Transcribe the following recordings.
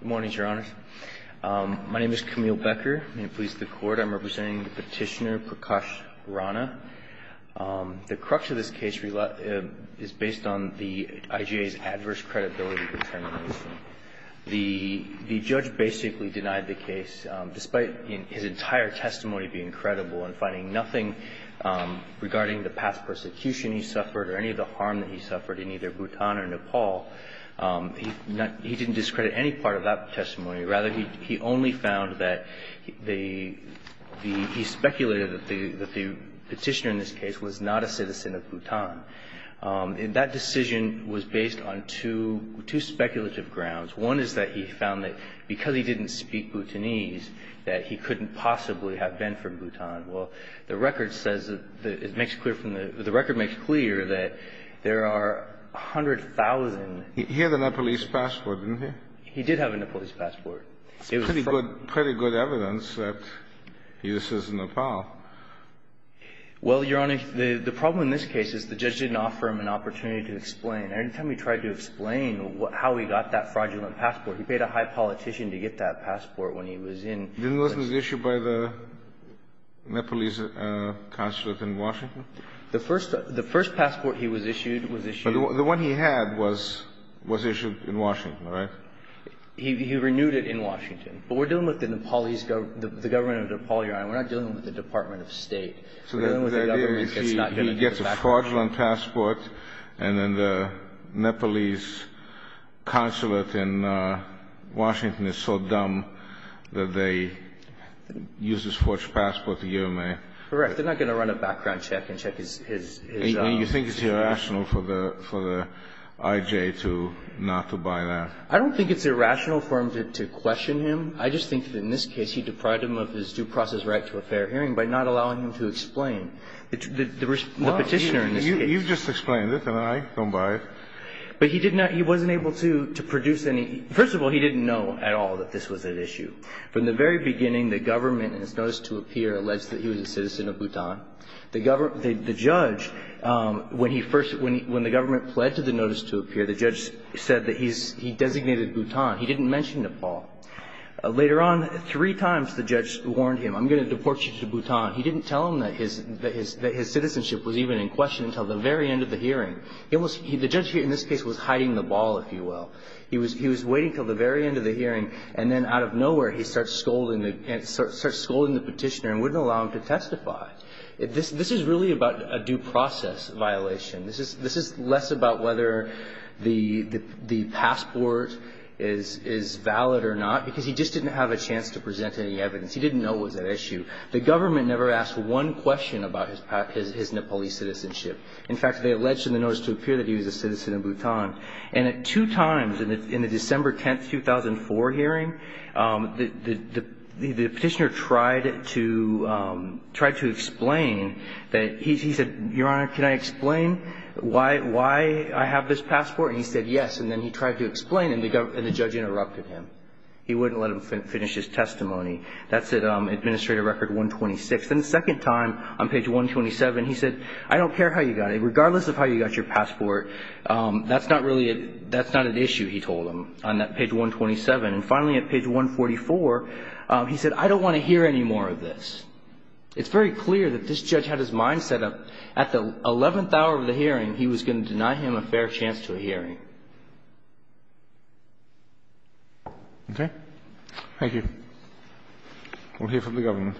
Good morning, Your Honors. My name is Camille Becker. I'm with the Police of the Court. I'm representing Petitioner Prakash Rana. The crux of this case is based on the IGA's adverse credibility determination. The judge basically denied the case, despite his entire testimony being credible and finding nothing regarding the past persecution he suffered or any of the harm that he suffered in either Bhutan or Bhutan. He didn't take part of that testimony. Rather, he only found that the he speculated that the Petitioner in this case was not a citizen of Bhutan. And that decision was based on two speculative grounds. One is that he found that because he didn't speak Bhutanese, that he couldn't possibly have been from Bhutan. Well, the record says that it makes clear from the record makes clear that there are 100,000 citizens of Bhutan. He had a Nepalese passport, didn't he? He did have a Nepalese passport. Pretty good evidence that he was a citizen of Nepal. Well, Your Honor, the problem in this case is the judge didn't offer him an opportunity to explain. Every time he tried to explain how he got that fraudulent passport, he paid a high politician to get that passport when he was in. Didn't this was issued by the Nepalese consulate in Washington? The first passport he was issued was issued. But the one he had was issued in Washington, right? He renewed it in Washington. But we're dealing with the Nepalese government, the government of Nepal, Your Honor. We're not dealing with the Department of State. So the idea is he gets a fraudulent passport, and then the Nepalese consulate in Washington is so dumb that they use this forged passport to UMA. Correct. They're not going to run a background check and check his own. And you think it's irrational for the I.J. to not to buy that? I don't think it's irrational for him to question him. I just think that in this case he deprived him of his due process right to a fair hearing by not allowing him to explain. The Petitioner in this case. Well, you've just explained it, and I don't buy it. But he did not he wasn't able to produce any. First of all, he didn't know at all that this was at issue. From the very beginning, the government, in its notice to appear, alleged that he was a citizen of Bhutan. The judge, when the government pled to the notice to appear, the judge said that he designated Bhutan. He didn't mention Nepal. Later on, three times the judge warned him, I'm going to deport you to Bhutan. He didn't tell him that his citizenship was even in question until the very end of the hearing. The judge in this case was hiding the ball, if you will. He was waiting until the very end of the hearing, and then out of nowhere he starts scolding the Petitioner and wouldn't allow him to testify. This is really about a due process violation. This is less about whether the passport is valid or not, because he just didn't have a chance to present any evidence. He didn't know it was at issue. The government never asked one question about his Nepalese citizenship. In fact, they alleged in the notice to appear that he was a citizen of Bhutan. And at two times, in the December 10, 2004 hearing, the Petitioner tried to explain that he said, Your Honor, can I explain why I have this passport? And he said yes, and then he tried to explain, and the judge interrupted him. He wouldn't let him finish his testimony. That's at Administrative Record 126. Then the second time, on page 127, he said, I don't care how you got it. That's not really a – that's not at issue, he told him, on that page 127. And finally, at page 144, he said, I don't want to hear any more of this. It's very clear that this judge had his mind set up at the 11th hour of the hearing he was going to deny him a fair chance to a hearing. Okay? Thank you. We'll hear from the government.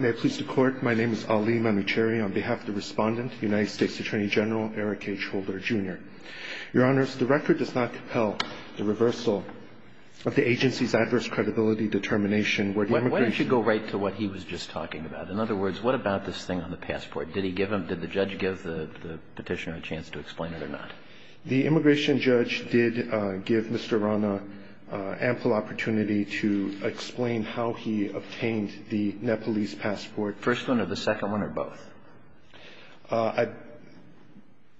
May it please the Court. My name is Ali Mamacheri. On behalf of the Respondent, United States Attorney General Eric H. Holder, Jr. Your Honors, the record does not compel the reversal of the agency's adverse credibility determination where the immigration – Why don't you go right to what he was just talking about? In other words, what about this thing on the passport? Did he give him – did the judge give the Petitioner a chance to explain it or not? The immigration judge did give Mr. Arana ample opportunity to explain how he obtained the Nepalese passport. First one or the second one or both? I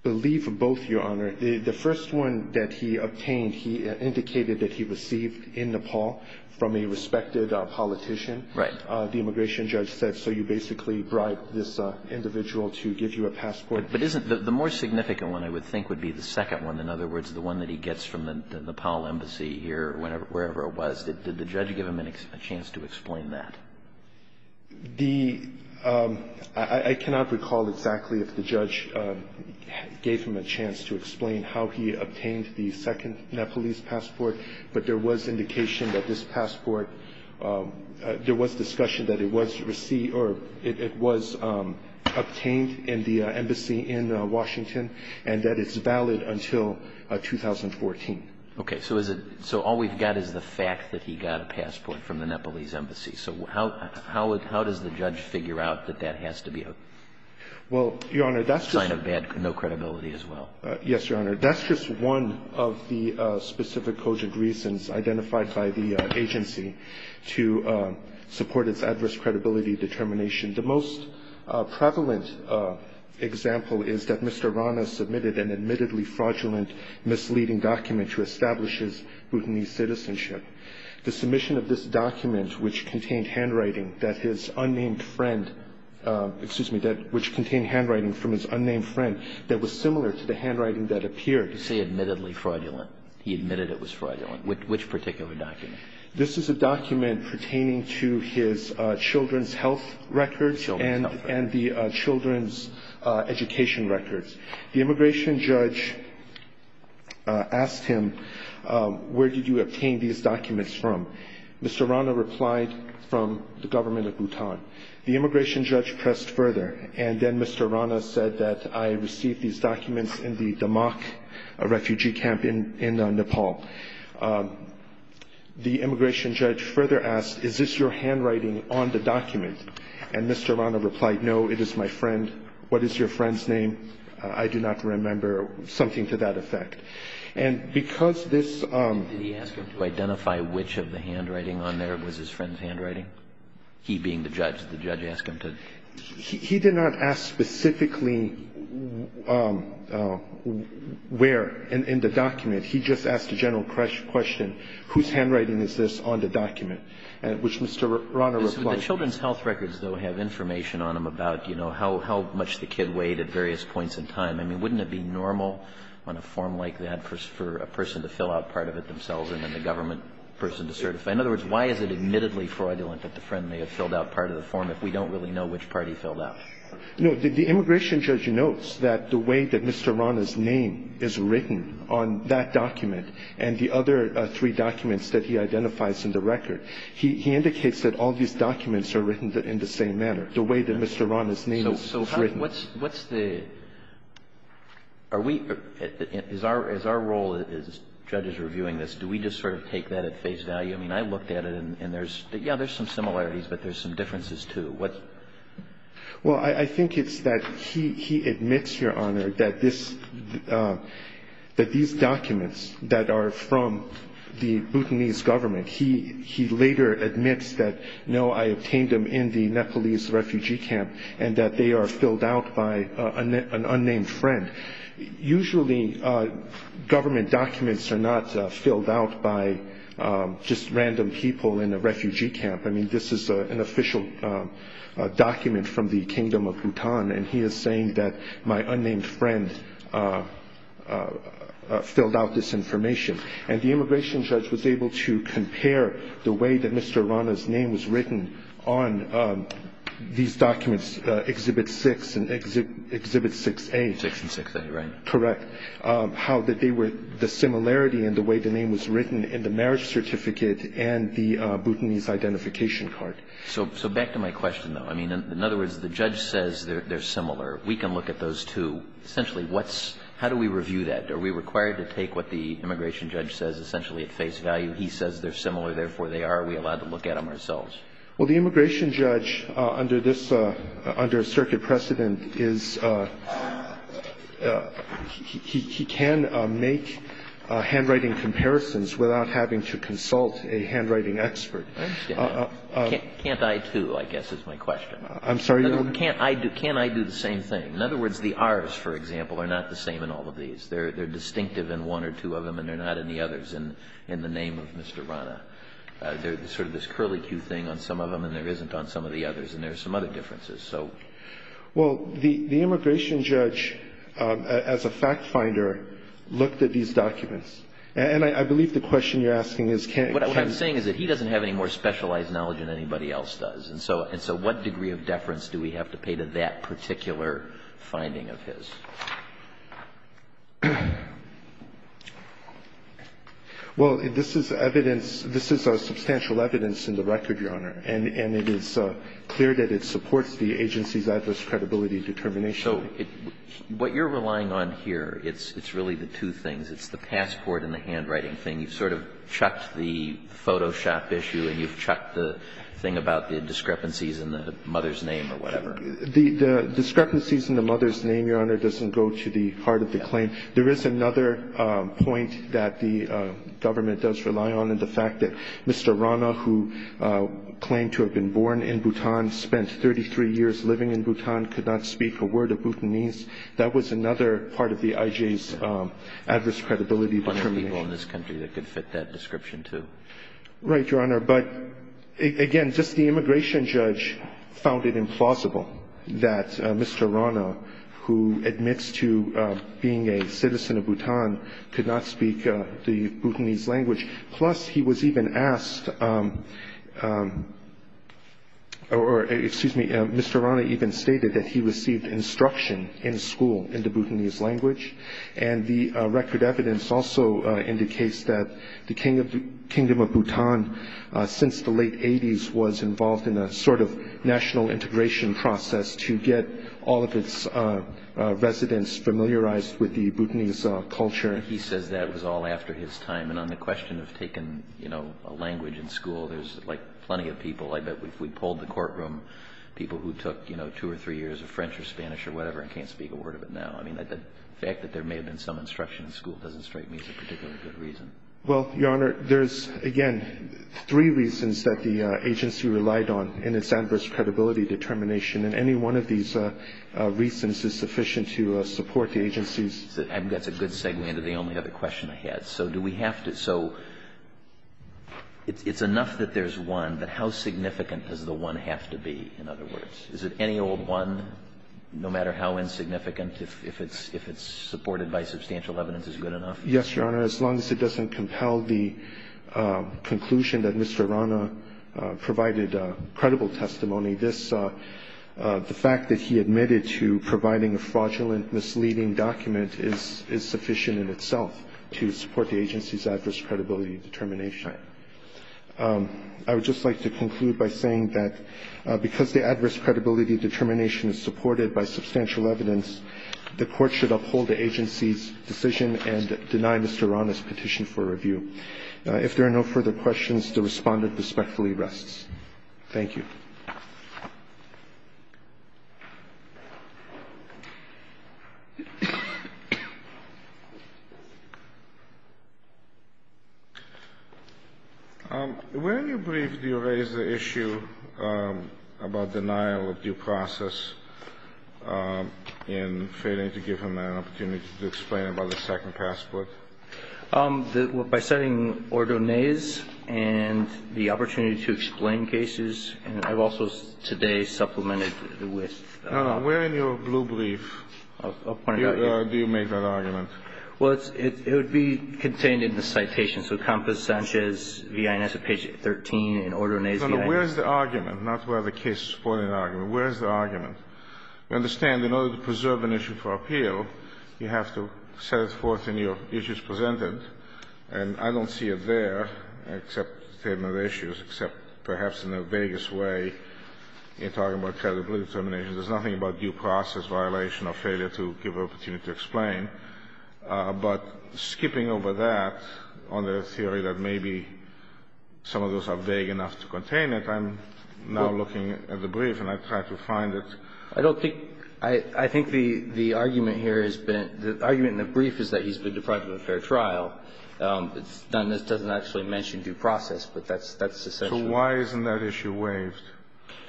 believe both, Your Honor. The first one that he obtained, he indicated that he received in Nepal from a respected politician. Right. The immigration judge said, so you basically bribed this individual to give you a passport. But isn't – the more significant one, I would think, would be the second one. In other words, the one that he gets from the Nepal embassy here, wherever it was. Did the judge give him a chance to explain that? The – I cannot recall exactly if the judge gave him a chance to explain how he obtained the second Nepalese passport. But there was indication that this passport – there was discussion that it was received or it was obtained in the embassy in Washington and that it's valid until 2014. Okay. So is it – so all we've got is the fact that he got a passport from the Nepalese embassy. So how does the judge figure out that that has to be a sign of bad – no credibility as well? Yes, Your Honor. That's just one of the specific cogent reasons identified by the agency to support its adverse credibility determination. The most prevalent example is that Mr. Rana submitted an admittedly fraudulent, misleading document to establish his Bhutanese citizenship. The submission of this document, which contained handwriting that his unnamed friend – You say admittedly fraudulent. He admitted it was fraudulent. Which particular document? This is a document pertaining to his children's health records and the children's education records. The immigration judge asked him, where did you obtain these documents from? The immigration judge pressed further, and then Mr. Rana said that I received these documents in the Damak refugee camp in Nepal. The immigration judge further asked, is this your handwriting on the document? And Mr. Rana replied, no, it is my friend. What is your friend's name? I do not remember something to that effect. And because this – Did he ask him to identify which of the handwriting on there was his friend's handwriting, he being the judge? Did the judge ask him to? He did not ask specifically where in the document. He just asked a general question, whose handwriting is this on the document, which Mr. Rana replied. The children's health records, though, have information on them about, you know, how much the kid weighed at various points in time. I mean, wouldn't it be normal on a form like that for a person to fill out part of it themselves and then the government person to certify? In other words, why is it admittedly fraudulent that the friend may have filled out part of the form if we don't really know which part he filled out? No. The immigration judge notes that the way that Mr. Rana's name is written on that document and the other three documents that he identifies in the record, he indicates that all these documents are written in the same manner, the way that Mr. Rana's name is written. So what's the – are we – is our role as judges reviewing this, do we just sort of take that at face value? I mean, I looked at it and there's – yeah, there's some similarities, but there's some differences, too. What's – Well, I think it's that he admits, Your Honor, that this – that these documents that are from the Bhutanese government, he later admits that, no, I obtained them in the Nepalese refugee camp and that they are filled out by an unnamed friend. Usually, government documents are not filled out by just random people in a refugee camp. I mean, this is an official document from the kingdom of Bhutan and he is saying that my unnamed friend filled out this information. And the immigration judge was able to compare the way that Mr. Rana's name was written on these documents, Exhibit 6 and Exhibit 6A. 6 and 6A, right. Correct. How that they were – the similarity in the way the name was written in the marriage certificate and the Bhutanese identification card. So back to my question, though. I mean, in other words, the judge says they're similar. We can look at those, too. Essentially, what's – how do we review that? Are we required to take what the immigration judge says essentially at face value? He says they're similar, therefore they are. Are we allowed to look at them ourselves? Well, the immigration judge under this – under circuit precedent is – he can make handwriting comparisons without having to consult a handwriting expert. I understand. Can't I, too, I guess is my question. I'm sorry, Your Honor. Can't I do – can I do the same thing? In other words, the Rs, for example, are not the same in all of these. They're distinctive in one or two of them and they're not in the others in the name of Mr. Rana. There's sort of this curlicue thing on some of them and there isn't on some of the others. And there are some other differences. So – Well, the immigration judge, as a fact finder, looked at these documents. And I believe the question you're asking is can – What I'm saying is that he doesn't have any more specialized knowledge than anybody else does. And so what degree of deference do we have to pay to that particular finding of his? Well, this is evidence – this is substantial evidence in the record, Your Honor. And it is clear that it supports the agency's adverse credibility determination. So what you're relying on here, it's really the two things. It's the passport and the handwriting thing. You've sort of chucked the Photoshop issue and you've chucked the thing about the discrepancies in the mother's name or whatever. The discrepancies in the mother's name, Your Honor, doesn't go to the heart of the claim. There is another point that the government does rely on in the fact that Mr. Rana, who claimed to have been born in Bhutan, spent 33 years living in Bhutan, could not speak a word of Bhutanese. That was another part of the IJ's adverse credibility determination. One of the people in this country that could fit that description, too. Right, Your Honor. But, again, just the immigration judge found it implausible that Mr. Rana, who admits to being a citizen of Bhutan, could not speak the Bhutanese language. Plus, he was even asked – or, excuse me, Mr. Rana even stated that he received instruction in school in the Bhutanese language. And the record evidence also indicates that the Kingdom of Bhutan, since the late 80s, was involved in a sort of national integration process to get all of its residents familiarized with the Bhutanese culture. He says that it was all after his time. And on the question of taking a language in school, there's plenty of people. We polled the courtroom, people who took two or three years of French or Spanish or whatever and can't speak a word of it now. I mean, the fact that there may have been some instruction in school doesn't strike me as a particularly good reason. Well, Your Honor, there's, again, three reasons that the agency relied on in its adverse credibility determination, and any one of these reasons is sufficient to support the agency's – That's a good segue into the only other question I had. So do we have to – so it's enough that there's one, but how significant does the one have to be, in other words? Is it any old one, no matter how insignificant, if it's supported by substantial evidence is good enough? Yes, Your Honor. As long as it doesn't compel the conclusion that Mr. Rana provided credible testimony, the fact that he admitted to providing a fraudulent, misleading document is sufficient in itself to support the agency's adverse credibility determination. I would just like to conclude by saying that because the adverse credibility determination is supported by substantial evidence, the court should uphold the agency's decision and deny Mr. Rana's petition for review. If there are no further questions, the Respondent respectfully rests. Thank you. Where in your brief do you raise the issue about denial of due process in failing to give him an opportunity to explain about the second passport? By citing Ordonez and the opportunity to explain cases, and I've also today supplemented with – No, no. Where in your blue brief do you make that argument? Well, it's – it would be contained in the citation. So Compass, Sanchez, V.I., and that's at page 13 in Ordonez. No, no. Where is the argument? Not whether the case is supported in the argument. Where is the argument? We understand in order to preserve an issue for appeal, you have to set it forth in your issues presented, and I don't see it there, except statement of issues, except perhaps in the vaguest way in talking about credibility determination. There's nothing about due process violation or failure to give an opportunity to explain, but skipping over that on the theory that maybe some of those are vague enough to contain it, I'm now looking at the brief and I try to find it. I don't think – I think the argument here has been – the argument in the brief is that he's been deprived of a fair trial. It's done – it doesn't actually mention due process, but that's essential. So why isn't that issue waived?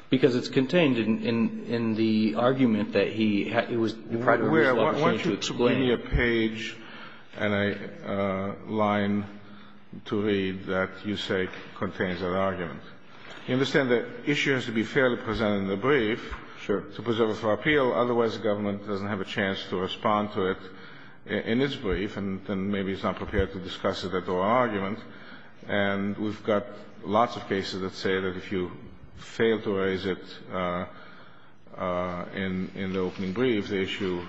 Because it's contained in the argument that he was deprived of a reasonable opportunity to explain. I want you to bring me a page and a line to read that you say contains that argument. You understand the issue has to be fairly presented in the brief. Sure. To preserve it for appeal. Otherwise, the government doesn't have a chance to respond to it in its brief, and then maybe it's not prepared to discuss it at the oral argument. And we've got lots of cases that say that if you fail to raise it in the opening brief, the issue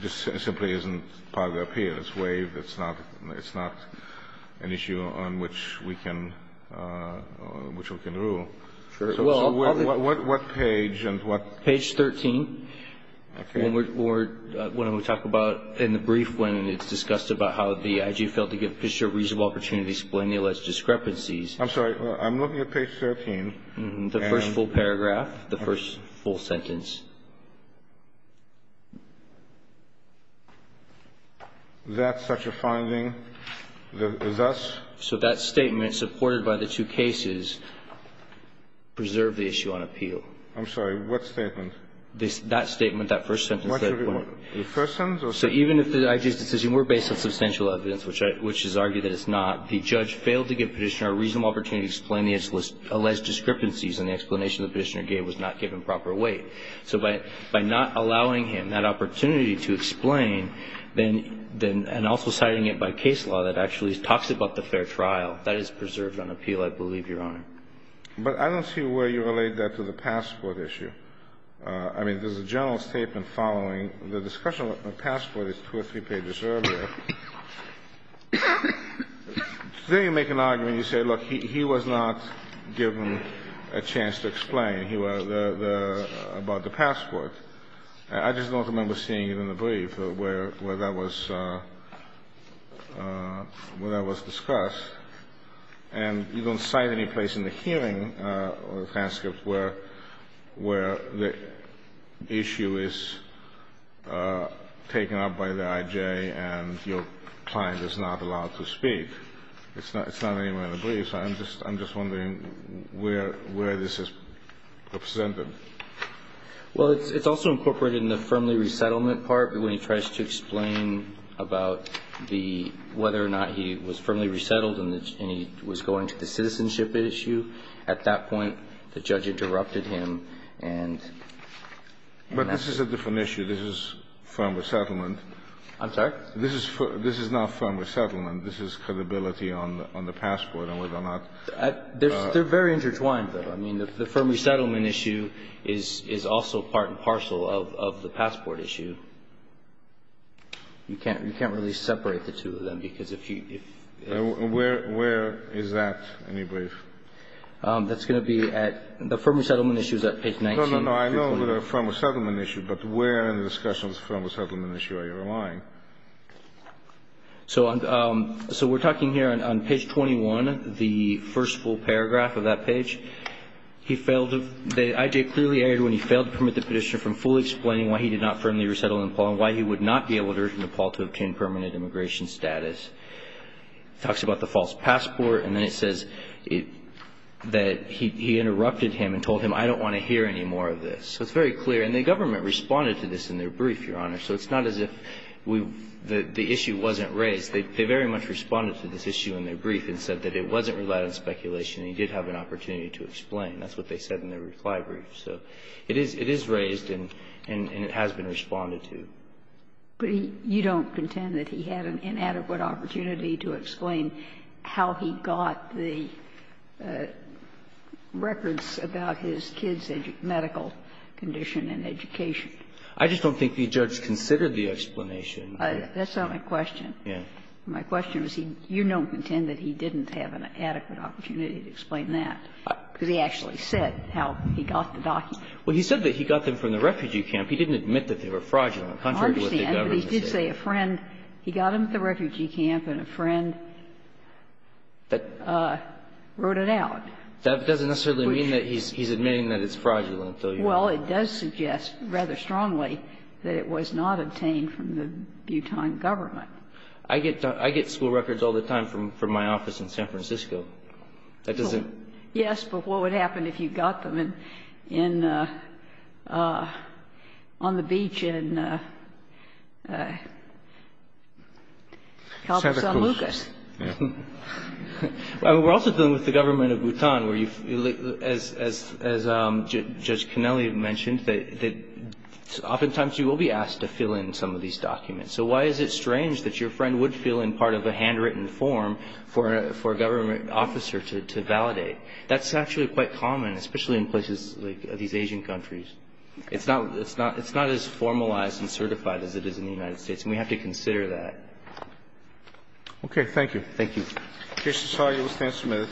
just simply isn't part of the appeal. It's waived. It's not – it's not an issue on which we can – which we can rule. Sure. So what page and what – Page 13. Okay. When we're – when we talk about in the brief when it's discussed about how the IG failed to give Fisher a reasonable opportunity to explain the alleged discrepancies. I'm sorry. I'm looking at page 13. The first full paragraph. The first full sentence. That's such a finding. Thus? So that statement, supported by the two cases, preserved the issue on appeal. I'm sorry. What statement? That statement, that first sentence. The first sentence? So even if the IG's decision were based on substantial evidence, which is argued that it's not, the judge failed to give Petitioner a reasonable opportunity to explain the alleged discrepancies and the explanation that Petitioner gave was not given proper weight. So by not allowing him that opportunity to explain, then – and also citing it by case law that actually talks about the fair trial, that is preserved on appeal, I believe, Your Honor. But I don't see where you relate that to the passport issue. I mean, there's a general statement following the discussion with the passport that's two or three pages earlier. Today you make an argument. You say, look, he was not given a chance to explain. He was – about the passport. I just don't remember seeing it in the brief where that was – where that was discussed. And you don't cite any place in the hearing or the transcript where the issue is taken up by the I.J. and your client is not allowed to speak. It's not anywhere in the brief. I'm just wondering where this is represented. Well, it's also incorporated in the firmly resettlement part. When he tries to explain about the – whether or not he was firmly resettled and he was going to the citizenship issue, at that point the judge interrupted him and – But this is a different issue. This is firm resettlement. I'm sorry? This is not firm resettlement. This is credibility on the passport and whether or not – They're very intertwined, though. I mean, the firm resettlement issue is also part and parcel of the passport issue. You can't really separate the two of them because if you – Where is that in your brief? That's going to be at – the firm resettlement issue is at page 19. No, no, no. I know the firm resettlement issue, but where in the discussion of the firm resettlement issue are you relying? So we're talking here on page 21, the first full paragraph of that page. He failed to – The I.J. clearly erred when he failed to permit the petitioner from fully explaining why he did not firmly resettle in Nepal and why he would not be able to return to Nepal to obtain permanent immigration status. It talks about the false passport, and then it says that he interrupted him and told him, I don't want to hear any more of this. So it's very clear. And the government responded to this in their brief, Your Honor. So it's not as if we – the issue wasn't raised. They very much responded to this issue in their brief and said that it wasn't relied on speculation and he did have an opportunity to explain. That's what they said in their reply brief. So it is raised and it has been responded to. But you don't contend that he had an inadequate opportunity to explain how he got the records about his kid's medical condition and education. I just don't think the judge considered the explanation. That's not my question. My question is, you don't contend that he didn't have an adequate opportunity to explain that, because he actually said how he got the documents. Well, he said that he got them from the refugee camp. He didn't admit that they were fraudulent. Contrary to what the government said. I understand, but he did say a friend. He got them at the refugee camp and a friend wrote it out. That doesn't necessarily mean that he's admitting that it's fraudulent, though. Well, it does suggest rather strongly that it was not obtained from the Bhutan government. I get school records all the time from my office in San Francisco. That doesn't – Help us on Lucas. Well, we're also dealing with the government of Bhutan, where you – as Judge Connelly mentioned, that oftentimes you will be asked to fill in some of these documents. So why is it strange that your friend would fill in part of a handwritten form for a government officer to validate? That's actually quite common, especially in places like these Asian countries. It's not as formalized and certified as it is in the United States. And we have to consider that. Okay. Thank you. Thank you.